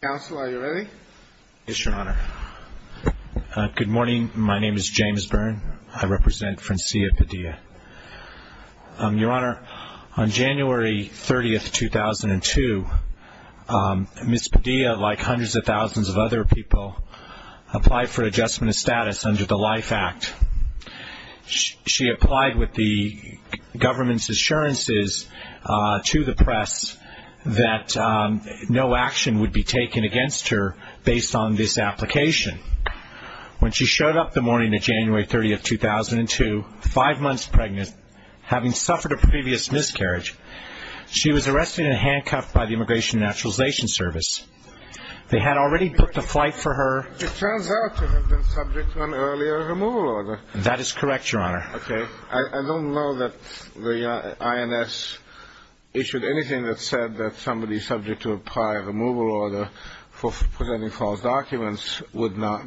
Counsel, are you ready? Yes, Your Honor. Good morning. My name is James Byrne. I represent Francia Padilla. Your Honor, on January 30, 2002, Ms. Padilla, like hundreds of thousands of other people, applied for adjustment of status under the LIFE Act. She applied with the government's assurances to the press that no action would be taken against her based on this application. When she showed up the morning of January 30, 2002, five months pregnant, having suffered a previous miscarriage, she was arrested and handcuffed by the Immigration and Naturalization Service. They had already booked a flight for her. It turns out to have been subject to an earlier removal order. That is correct, Your Honor. Okay. I don't know that the INS issued anything that said that somebody subject to a prior removal order for presenting false documents would not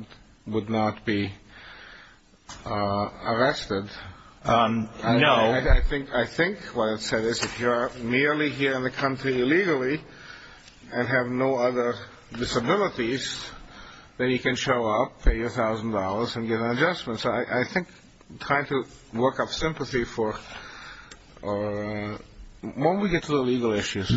be arrested. No. I think what it said is if you are merely here in the country illegally and have no other disabilities, then you can show up, pay $1,000 and get an adjustment. So I think trying to work up sympathy for her. When we get to the legal issues.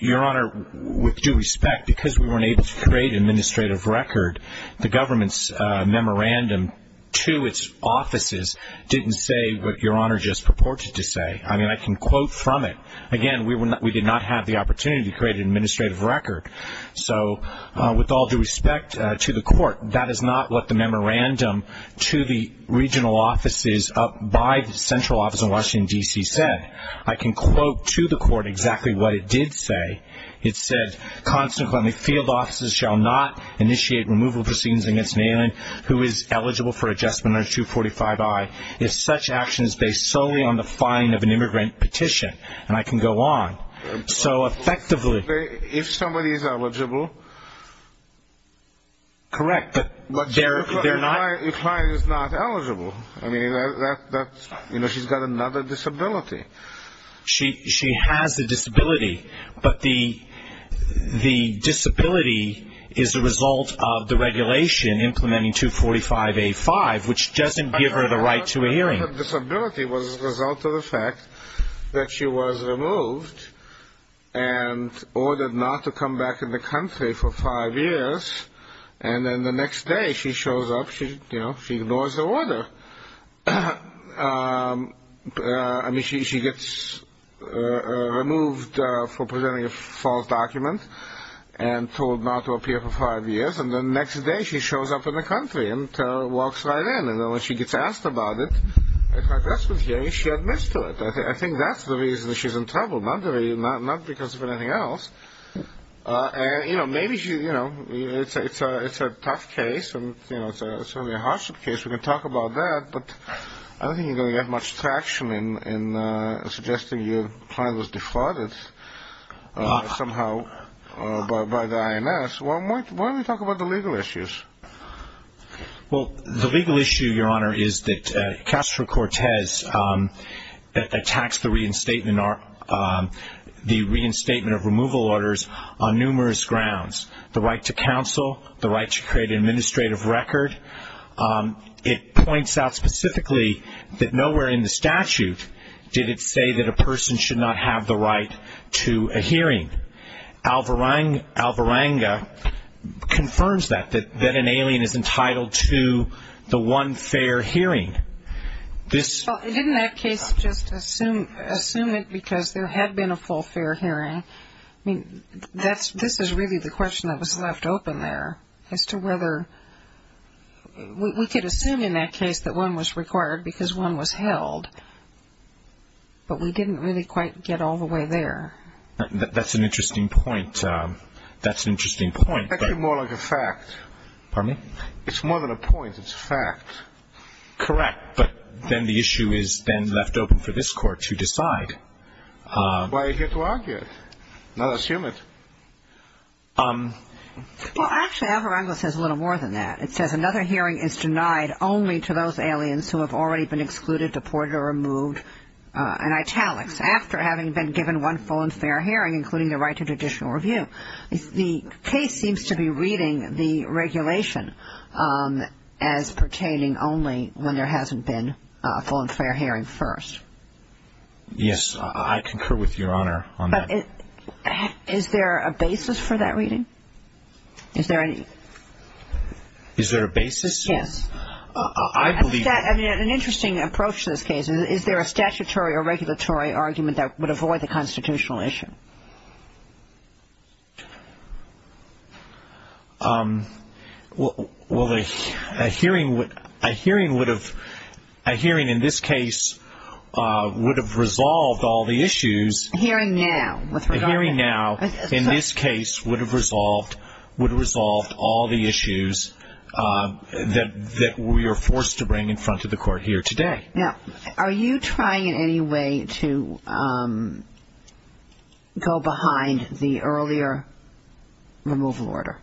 Your Honor, with due respect, because we weren't able to create an administrative record, the government's memorandum to its offices didn't say what Your Honor just purported to say. I mean, I can quote from it. Again, we did not have the opportunity to create an administrative record. So with all due respect to the court, that is not what the memorandum to the regional offices by the central office in Washington, D.C. said. I can quote to the court exactly what it did say. It said, consequently, field offices shall not initiate removal proceedings against an alien who is eligible for adjustment under 245i if such action is based solely on the filing of an immigrant petition. And I can go on. So effectively... If somebody is eligible... Correct. But your client is not eligible. I mean, she's got another disability. She has a disability. But the disability is a result of the regulation implementing 245a-5, which doesn't give her the right to a hearing. Her disability was a result of the fact that she was removed and ordered not to come back in the country for five years. And then the next day she shows up. She ignores the order. I mean, she gets removed for presenting a false document and told not to appear for five years. And the next day she shows up in the country and walks right in. And then when she gets asked about it at her adjustment hearing, she admits to it. I think that's the reason she's in trouble, not because of anything else. Maybe it's a tough case and certainly a hardship case. We can talk about that. But I don't think you're going to get much traction in suggesting your client was defrauded somehow by the INS. Why don't we talk about the legal issues? Well, the legal issue, Your Honor, is that Castro-Cortez attacks the reinstatement of removal orders on numerous grounds, the right to counsel, the right to create an administrative record. It points out specifically that nowhere in the statute did it say that a person should not have the right to a hearing. Alvaranga confirms that, that an alien is entitled to the one fair hearing. Well, didn't that case just assume it because there had been a full fair hearing? I mean, this is really the question that was left open there as to whether we could assume in that case that one was required because one was held, but we didn't really quite get all the way there. That's an interesting point. That's an interesting point. That's more like a fact. Pardon me? It's more than a point. It's a fact. Correct. But then the issue is then left open for this Court to decide. Why are you here to argue it, not assume it? Well, actually, Alvaranga says a little more than that. It says another hearing is denied only to those aliens who have already been excluded, deported, or removed in italics after having been given one full and fair hearing, including the right to judicial review. The case seems to be reading the regulation as pertaining only when there hasn't been a full and fair hearing first. Yes. I concur with Your Honor on that. But is there a basis for that reading? Is there any? Is there a basis? Yes. An interesting approach to this case. Is there a statutory or regulatory argument that would avoid the constitutional issue? Well, a hearing in this case would have resolved all the issues. that we are forced to bring in front of the Court here today. Now, are you trying in any way to go behind the earlier removal order?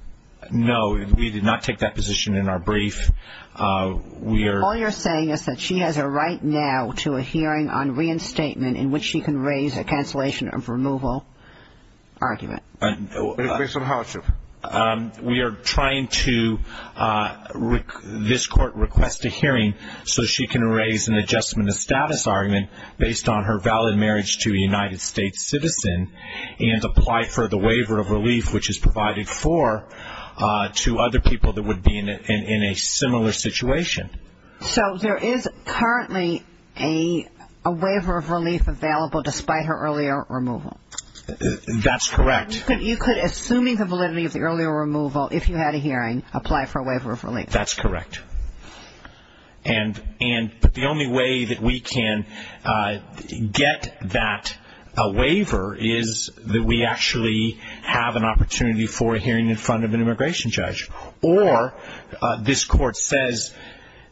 No. We did not take that position in our brief. All you're saying is that she has a right now to a hearing on reinstatement in which she can raise a cancellation of removal argument. Based on how, Chief? We are trying to, this Court requests a hearing so she can raise an adjustment of status argument based on her valid marriage to a United States citizen and apply for the waiver of relief which is provided for to other people that would be in a similar situation. So there is currently a waiver of relief available despite her earlier removal? That's correct. You could, assuming the validity of the earlier removal, if you had a hearing, apply for a waiver of relief? That's correct. And the only way that we can get that waiver is that we actually have an opportunity for a hearing in front of an immigration judge. Or this Court says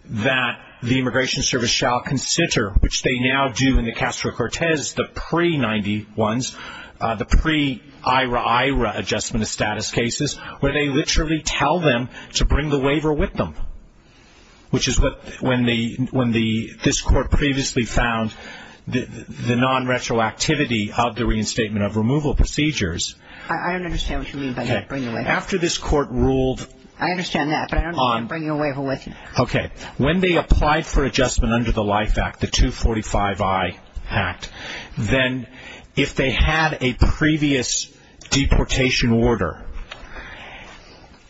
that the Immigration Service shall consider, which they now do in the Castro-Cortez, the pre-'90 ones, the pre-Ira-Ira adjustment of status cases, where they literally tell them to bring the waiver with them, which is when this Court previously found the non-retroactivity of the reinstatement of removal procedures. I don't understand what you mean by that, bring the waiver with you. After this Court ruled on – I understand that, but I don't understand bringing a waiver with you. Okay. When they applied for adjustment under the LIFE Act, the 245-I Act, then if they had a previous deportation order,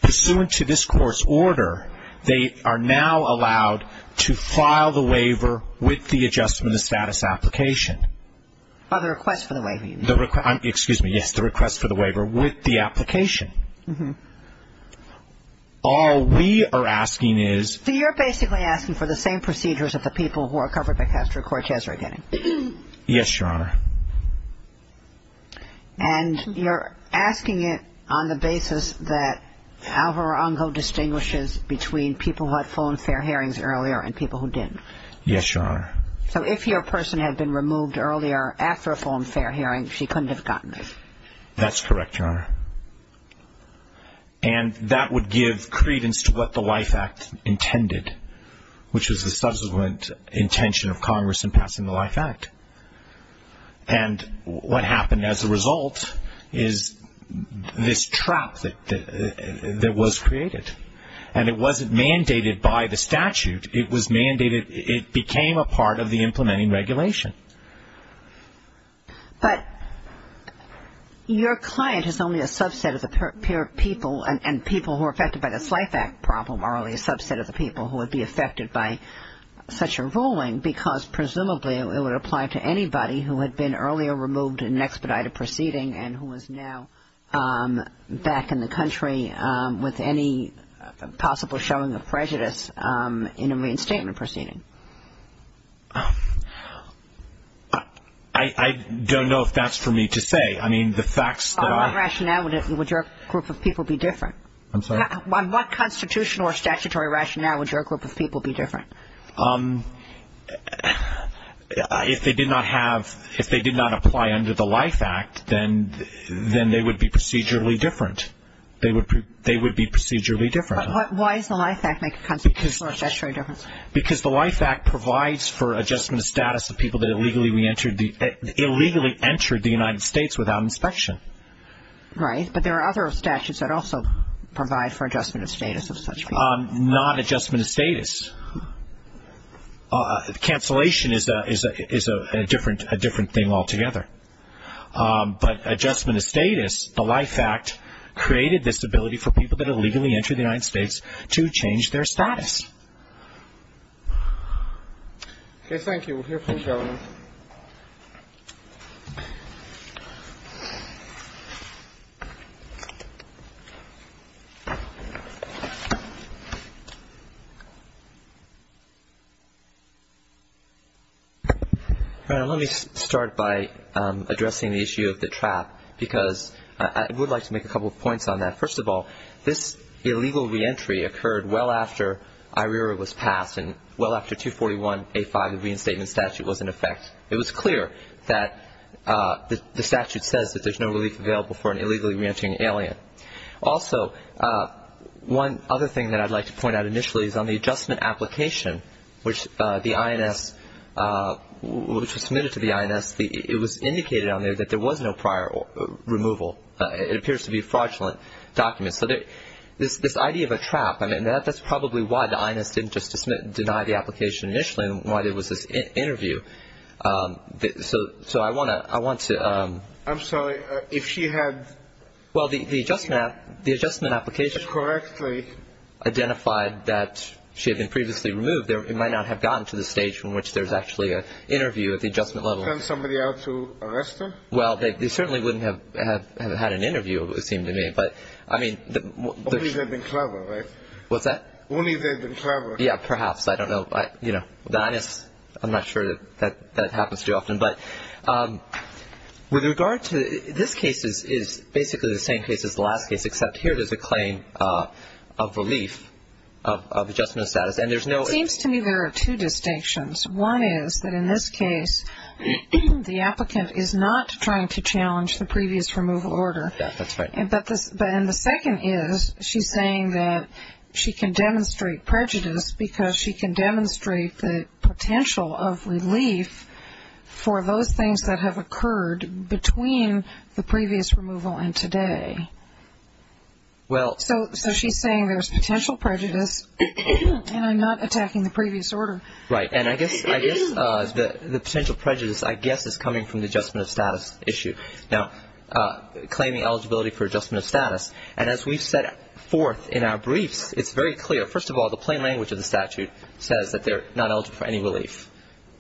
pursuant to this Court's order, they are now allowed to file the waiver with the adjustment of status application. By the request for the waiver, you mean? Excuse me, yes, the request for the waiver with the application. All we are asking is – So you're basically asking for the same procedures that the people who are covered by Castro-Cortez are getting. Yes, Your Honor. And you're asking it on the basis that Alvaro Ongo distinguishes between people who had full and fair hearings earlier and people who didn't. Yes, Your Honor. So if your person had been removed earlier after a full and fair hearing, she couldn't have gotten it. That's correct, Your Honor. And that would give credence to what the LIFE Act intended, which was the subsequent intention of Congress in passing the LIFE Act. And what happened as a result is this trap that was created. And it wasn't mandated by the statute. It was mandated – it became a part of the implementing regulation. But your client is only a subset of the people and people who are affected by this LIFE Act problem are only a subset of the people who would be affected by such a ruling because presumably it would apply to anybody who had been earlier removed in an expedited proceeding and who is now back in the country with any possible showing of prejudice in a reinstatement proceeding. I don't know if that's for me to say. I mean, the facts that I – On what rationale would your group of people be different? I'm sorry? On what constitutional or statutory rationale would your group of people be different? If they did not have – if they did not apply under the LIFE Act, then they would be procedurally different. They would be procedurally different. Why does the LIFE Act make a constitutional or statutory difference? Because the LIFE Act provides for adjustment of status of people that illegally entered the United States without inspection. Right. But there are other statutes that also provide for adjustment of status of such people. Not adjustment of status. Cancellation is a different thing altogether. But adjustment of status, the LIFE Act created this ability for people that illegally entered the United States to change their status. Okay, thank you. We'll hear from the Governor. All right, let me start by addressing the issue of the trap, because I would like to make a couple of points on that. First of all, this illegal reentry occurred well after IRERA was passed and well after 241A5, the reinstatement statute was in effect. It was clear that the statute says that there's no relief available for an illegally reentering alien. Also, one other thing that I'd like to point out initially is on the adjustment application, which the INS – which was submitted to the INS, it was indicated on there that there was no prior removal. It appears to be a fraudulent document. So this idea of a trap, I mean, that's probably why the INS didn't just deny the application initially and why there was this interview. So I want to – I'm sorry. If she had – Well, the adjustment application – Correctly – Identified that she had been previously removed, it might not have gotten to the stage from which there's actually an interview at the adjustment level. Sent somebody out to arrest her? Well, they certainly wouldn't have had an interview, it would seem to me. But, I mean – Only if they'd been clever, right? What's that? Only if they'd been clever. Yeah, perhaps. I don't know. You know, the INS, I'm not sure that that happens too often. But with regard to – this case is basically the same case as the last case, except here there's a claim of relief of adjustment status. And there's no – It seems to me there are two distinctions. One is that in this case, the applicant is not trying to challenge the previous removal order. Yeah, that's right. And the second is, she's saying that she can demonstrate prejudice because she can demonstrate the potential of relief for those things that have occurred between the previous removal and today. So she's saying there's potential prejudice and I'm not attacking the previous order. Right. And I guess the potential prejudice, I guess, is coming from the adjustment of status issue. Now, claiming eligibility for adjustment of status. And as we've said forth in our briefs, it's very clear. First of all, the plain language of the statute says that they're not eligible for any relief.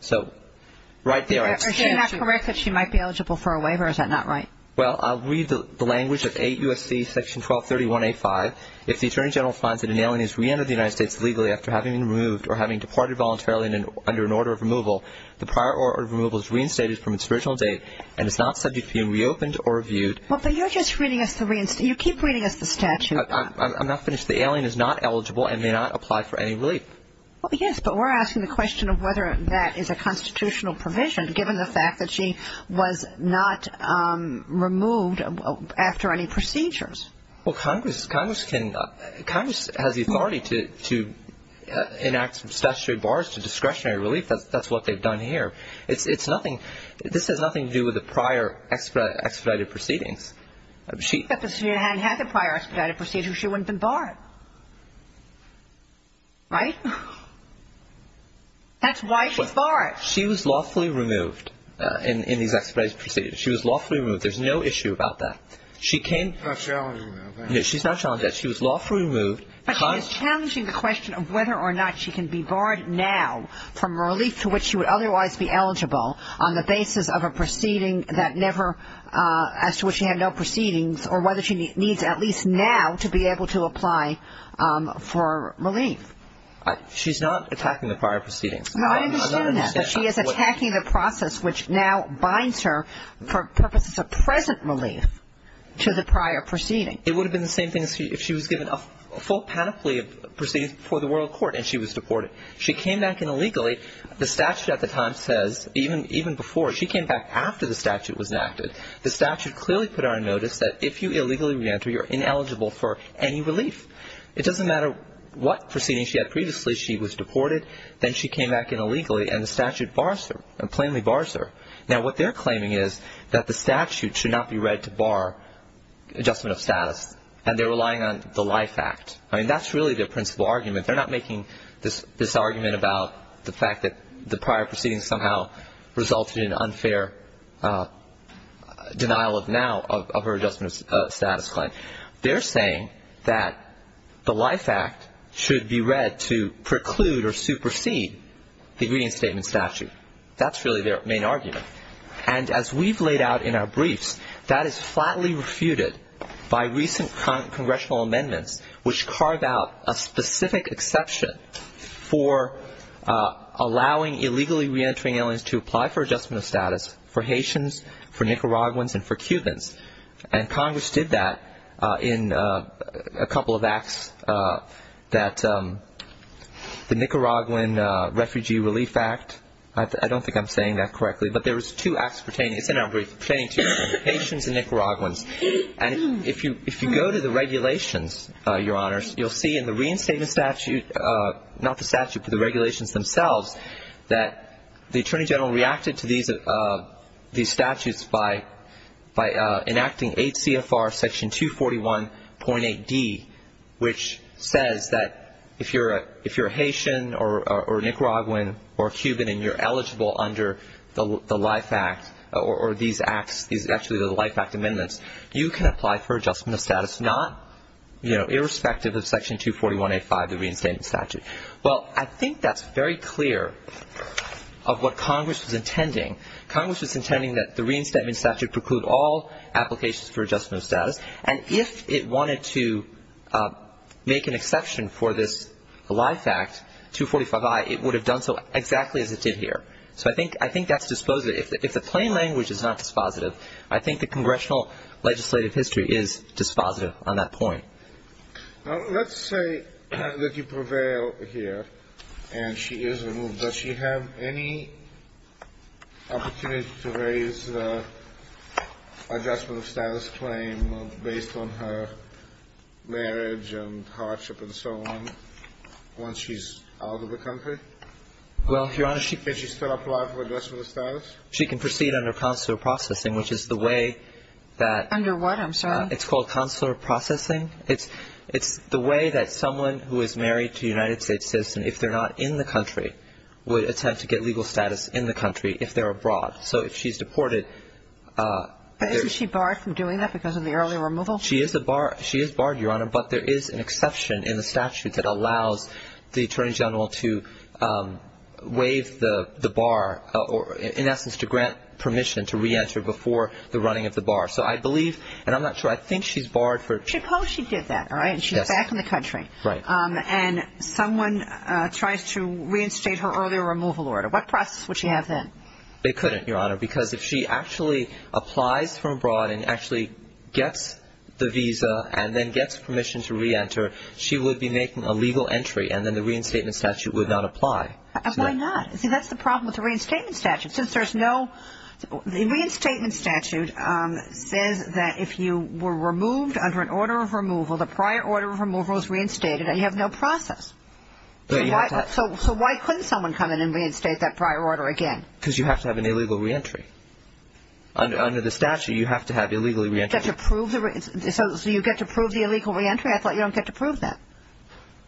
So right there – Is she not correct that she might be eligible for a waiver? Is that not right? Well, I'll read the language of AUSC Section 1231A5. If the Attorney General finds that an alien has reentered the United States legally after having been removed or having departed voluntarily under an order of removal, the prior order of removal is reinstated from its original date and is not subject to being reopened or reviewed – Well, but you're just reading us the – you keep reading us the statute. I'm not finished. The alien is not eligible and may not apply for any relief. Well, yes, but we're asking the question of whether that is a constitutional provision, given the fact that she was not removed after any procedures. Well, Congress can – Congress has the authority to enact statutory bars to discretionary relief. That's what they've done here. It's nothing – this has nothing to do with the prior expedited proceedings. If the senator hadn't had the prior expedited proceedings, she wouldn't have been barred. Right? That's why she's barred. She was lawfully removed in these expedited proceedings. She was lawfully removed. There's no issue about that. She came – She's not challenging that. No, she's not challenging that. She was lawfully removed. But she is challenging the question of whether or not she can be barred now from relief to which she would otherwise be eligible on the basis of a proceeding that never – as to which she had no proceedings or whether she needs at least now to be able to apply for relief. She's not attacking the prior proceedings. I don't understand that. She is attacking the process which now binds her for purposes of present relief to the prior proceedings. It would have been the same thing if she was given a full panoply of proceedings before the world court and she was deported. She came back in illegally. The statute at the time says even before – she came back after the statute was enacted. The statute clearly put on notice that if you illegally re-enter, you're ineligible for any relief. It doesn't matter what proceedings she had previously. She was deported. Then she came back in illegally, and the statute bars her, plainly bars her. Now, what they're claiming is that the statute should not be read to bar adjustment of status, and they're relying on the Life Act. I mean, that's really their principal argument. They're not making this argument about the fact that the prior proceedings somehow resulted in unfair denial of now, of her adjustment of status claim. They're saying that the Life Act should be read to preclude or supersede the agreement statement statute. That's really their main argument. And as we've laid out in our briefs, that is flatly refuted by recent congressional amendments, which carve out a specific exception for allowing illegally re-entering aliens to apply for adjustment of status for Haitians, for Nicaraguans, and for Cubans. And Congress did that in a couple of acts that the Nicaraguan Refugee Relief Act. I don't think I'm saying that correctly, but there was two acts pertaining to Haitians and Nicaraguans. And if you go to the regulations, Your Honors, you'll see in the reinstatement statute, not the statute, but the regulations themselves, that the Attorney General reacted to these statutes by enacting 8 CFR Section 241.8D, which says that if you're a Haitian or Nicaraguan or Cuban and you're eligible under the Life Act, or these acts, actually the Life Act amendments, you can apply for adjustment of status, irrespective of Section 241.85, the reinstatement statute. Well, I think that's very clear of what Congress was intending. Congress was intending that the reinstatement statute preclude all applications for adjustment of status. And if it wanted to make an exception for this Life Act, 245I, it would have done so exactly as it did here. So I think that's dispositive. If the plain language is not dispositive, I think the congressional legislative history is dispositive on that point. Now, let's say that you prevail here and she is removed. Does she have any opportunity to raise adjustment of status claim based on her marriage and hardship and so on once she's out of the country? Well, Your Honor, she can proceed under consular processing, which is the way that under what? I'm sorry. It's called consular processing. It's the way that someone who is married to a United States citizen, if they're not in the country, would attempt to get legal status in the country if they're abroad. So if she's deported. But isn't she barred from doing that because of the early removal? She is barred, Your Honor. But there is an exception in the statute that allows the attorney general to waive the bar or, in essence, to grant permission to reenter before the running of the bar. So I believe, and I'm not sure, I think she's barred for. Suppose she did that, all right, and she's back in the country. Right. And someone tries to reinstate her earlier removal order. What process would she have then? They couldn't, Your Honor, because if she actually applies from abroad and actually gets the visa and then gets permission to reenter, she would be making a legal entry and then the reinstatement statute would not apply. Why not? See, that's the problem with the reinstatement statute. Since there's no – the reinstatement statute says that if you were removed under an order of removal, the prior order of removal is reinstated and you have no process. So why couldn't someone come in and reinstate that prior order again? Because you have to have an illegal reentry. Under the statute, you have to have illegal reentry. So you get to prove the illegal reentry? I thought you don't get to prove that.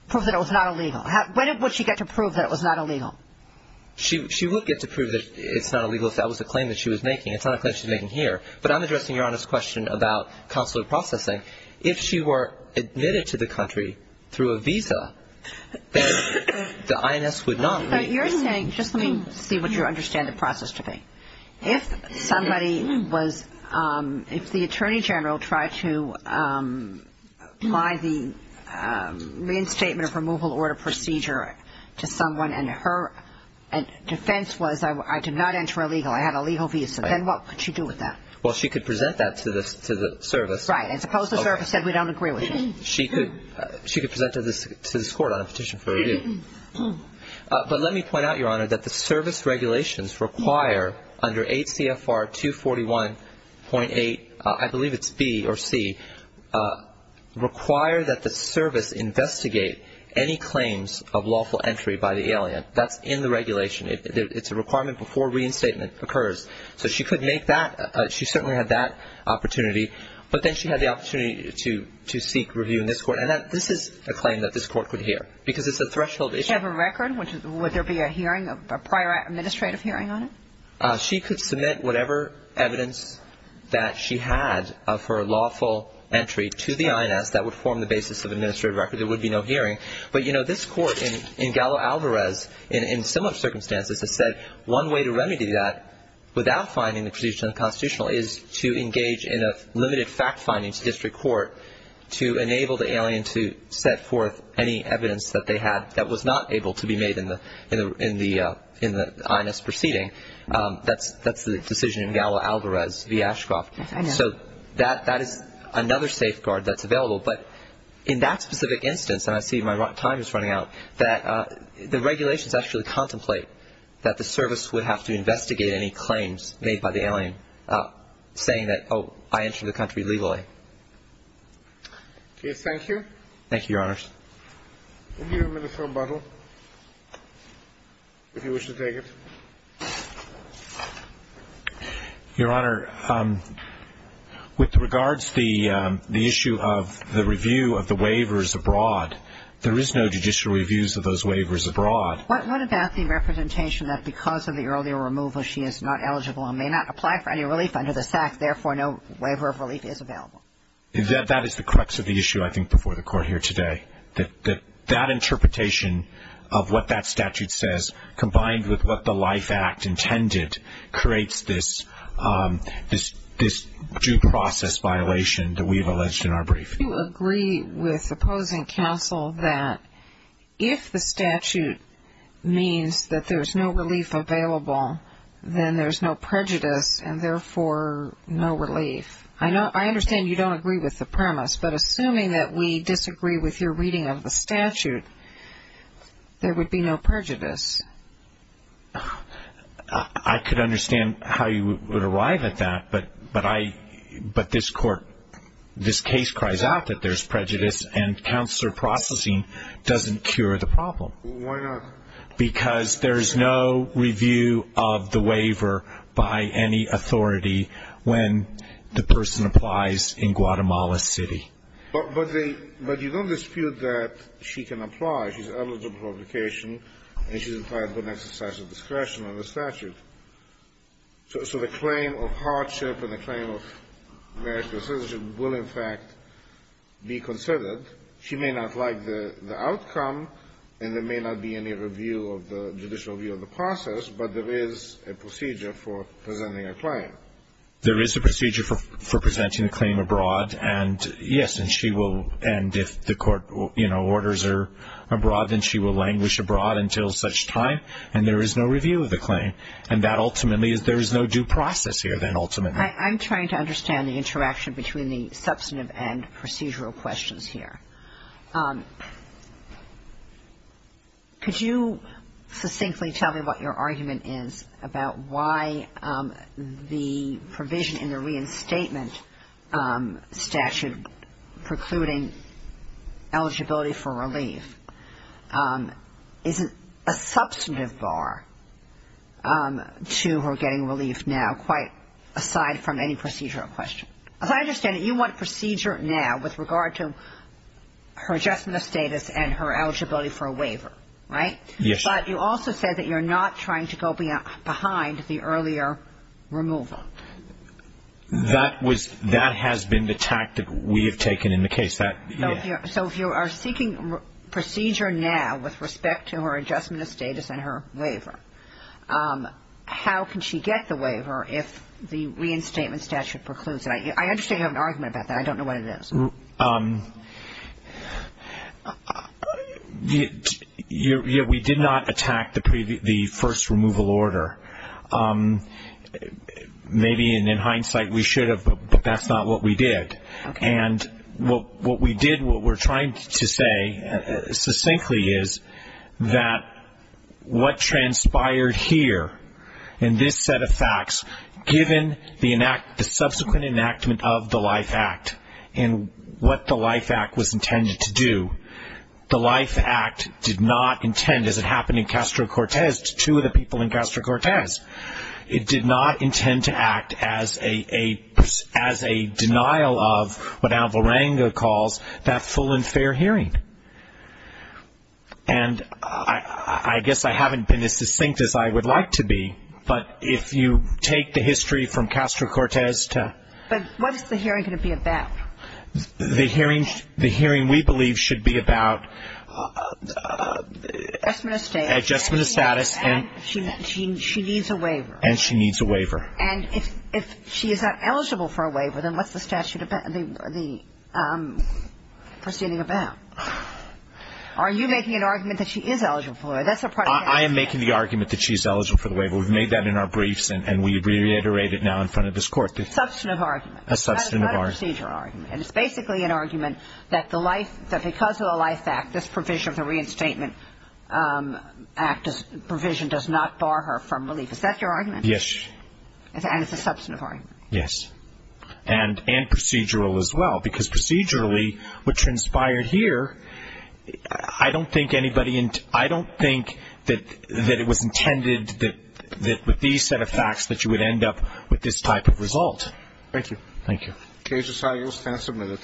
Prove that it was not illegal. When would she get to prove that it was not illegal? She would get to prove that it's not illegal if that was a claim that she was making. It's not a claim she's making here. But I'm addressing Your Honor's question about consular processing. If she were admitted to the country through a visa, then the INS would not – You're saying – just let me see what you understand the process to be. If somebody was – if the Attorney General tried to apply the reinstatement of removal order procedure to someone and her defense was I did not enter illegal, I had a legal visa, then what could she do with that? Well, she could present that to the service. Right. And suppose the service said we don't agree with you. She could present it to this Court on a petition for review. But let me point out, Your Honor, that the service regulations require under 8 CFR 241.8, I believe it's B or C, require that the service investigate any claims of lawful entry by the alien. That's in the regulation. It's a requirement before reinstatement occurs. So she could make that – she certainly had that opportunity. But then she had the opportunity to seek review in this Court. And this is a claim that this Court could hear because it's a threshold issue. She have a record? Would there be a hearing, a prior administrative hearing on it? She could submit whatever evidence that she had of her lawful entry to the INS that would form the basis of administrative record. There would be no hearing. But, you know, this Court in Gallo-Alvarez, in similar circumstances, has said one way to remedy that without finding the position unconstitutional is to engage in a limited fact-finding to district court to enable the alien to set forth any evidence that they had that was not able to be made in the INS proceeding. That's the decision in Gallo-Alvarez v. Ashcroft. Yes, I know. So that is another safeguard that's available. But in that specific instance, and I see my time is running out, that the regulations actually contemplate that the service would have to investigate any claims made by the alien, saying that, oh, I entered the country legally. Okay. Thank you. Thank you, Your Honors. We'll give you a minute for rebuttal if you wish to take it. Your Honor, with regards to the issue of the review of the waivers abroad, there is no judicial reviews of those waivers abroad. What about the representation that because of the earlier removal she is not eligible and may not apply for any relief under the SAC, therefore no waiver of relief is available? That is the crux of the issue, I think, before the Court here today, that that interpretation of what that statute says combined with what the Life Act intended creates this due process violation that we have alleged in our brief. If you agree with opposing counsel that if the statute means that there is no relief available, then there is no prejudice and therefore no relief. I understand you don't agree with the premise, but assuming that we disagree with your reading of the statute, there would be no prejudice. I could understand how you would arrive at that, but this case cries out that there is prejudice and counselor processing doesn't cure the problem. Why not? Because there is no review of the waiver by any authority when the person applies in Guatemala City. But you don't dispute that she can apply. She is eligible for application and she is required to put an exercise of discretion under the statute. So the claim of hardship and the claim of marital citizenship will, in fact, be considered. She may not like the outcome and there may not be any review of the judicial review of the process, but there is a procedure for presenting a claim. There is a procedure for presenting a claim abroad, and yes, and if the court orders her abroad, then she will languish abroad until such time, and there is no review of the claim. And that ultimately is there is no due process here then ultimately. I'm trying to understand the interaction between the substantive and procedural questions here. Could you succinctly tell me what your argument is about why the provision in the reinstatement statute precluding eligibility for relief isn't a substantive bar to her getting relief now quite aside from any procedural question? As I understand it, you want procedure now with regard to her adjustment of status and her eligibility for a waiver, right? Yes. But you also said that you're not trying to go behind the earlier removal. That has been the tactic we have taken in the case. So if you are seeking procedure now with respect to her adjustment of status and her waiver, how can she get the waiver if the reinstatement statute precludes it? I understand you have an argument about that. I don't know what it is. We did not attack the first removal order. Maybe in hindsight we should have, but that's not what we did. And what we did, what we're trying to say succinctly is that what transpired here in this set of facts, given the subsequent enactment of the LIFE Act and what the LIFE Act was intended to do, the LIFE Act did not intend, as it happened in Castro-Cortez to two of the people in Castro-Cortez, it did not intend to act as a denial of what Alvarenga calls that full and fair hearing. And I guess I haven't been as succinct as I would like to be. But if you take the history from Castro-Cortez to ---- But what is the hearing going to be about? The hearing we believe should be about ---- Adjustment of status. Adjustment of status. And she needs a waiver. And she needs a waiver. And if she is not eligible for a waiver, then what's the statute, the proceeding about? Are you making an argument that she is eligible for a waiver? I am making the argument that she is eligible for the waiver. We've made that in our briefs and we reiterate it now in front of this Court. A substantive argument. A substantive argument. Not a procedure argument. And it's basically an argument that because of the LIFE Act, this provision of the Reinstatement Act provision does not bar her from relief. Is that your argument? Yes. And it's a substantive argument. Yes. And procedural as well. Because procedurally, what transpired here, I don't think anybody ---- I don't think that it was intended that with these set of facts that you would end up with this type of result. Thank you. Thank you. Okay. This is how you will stand submitted.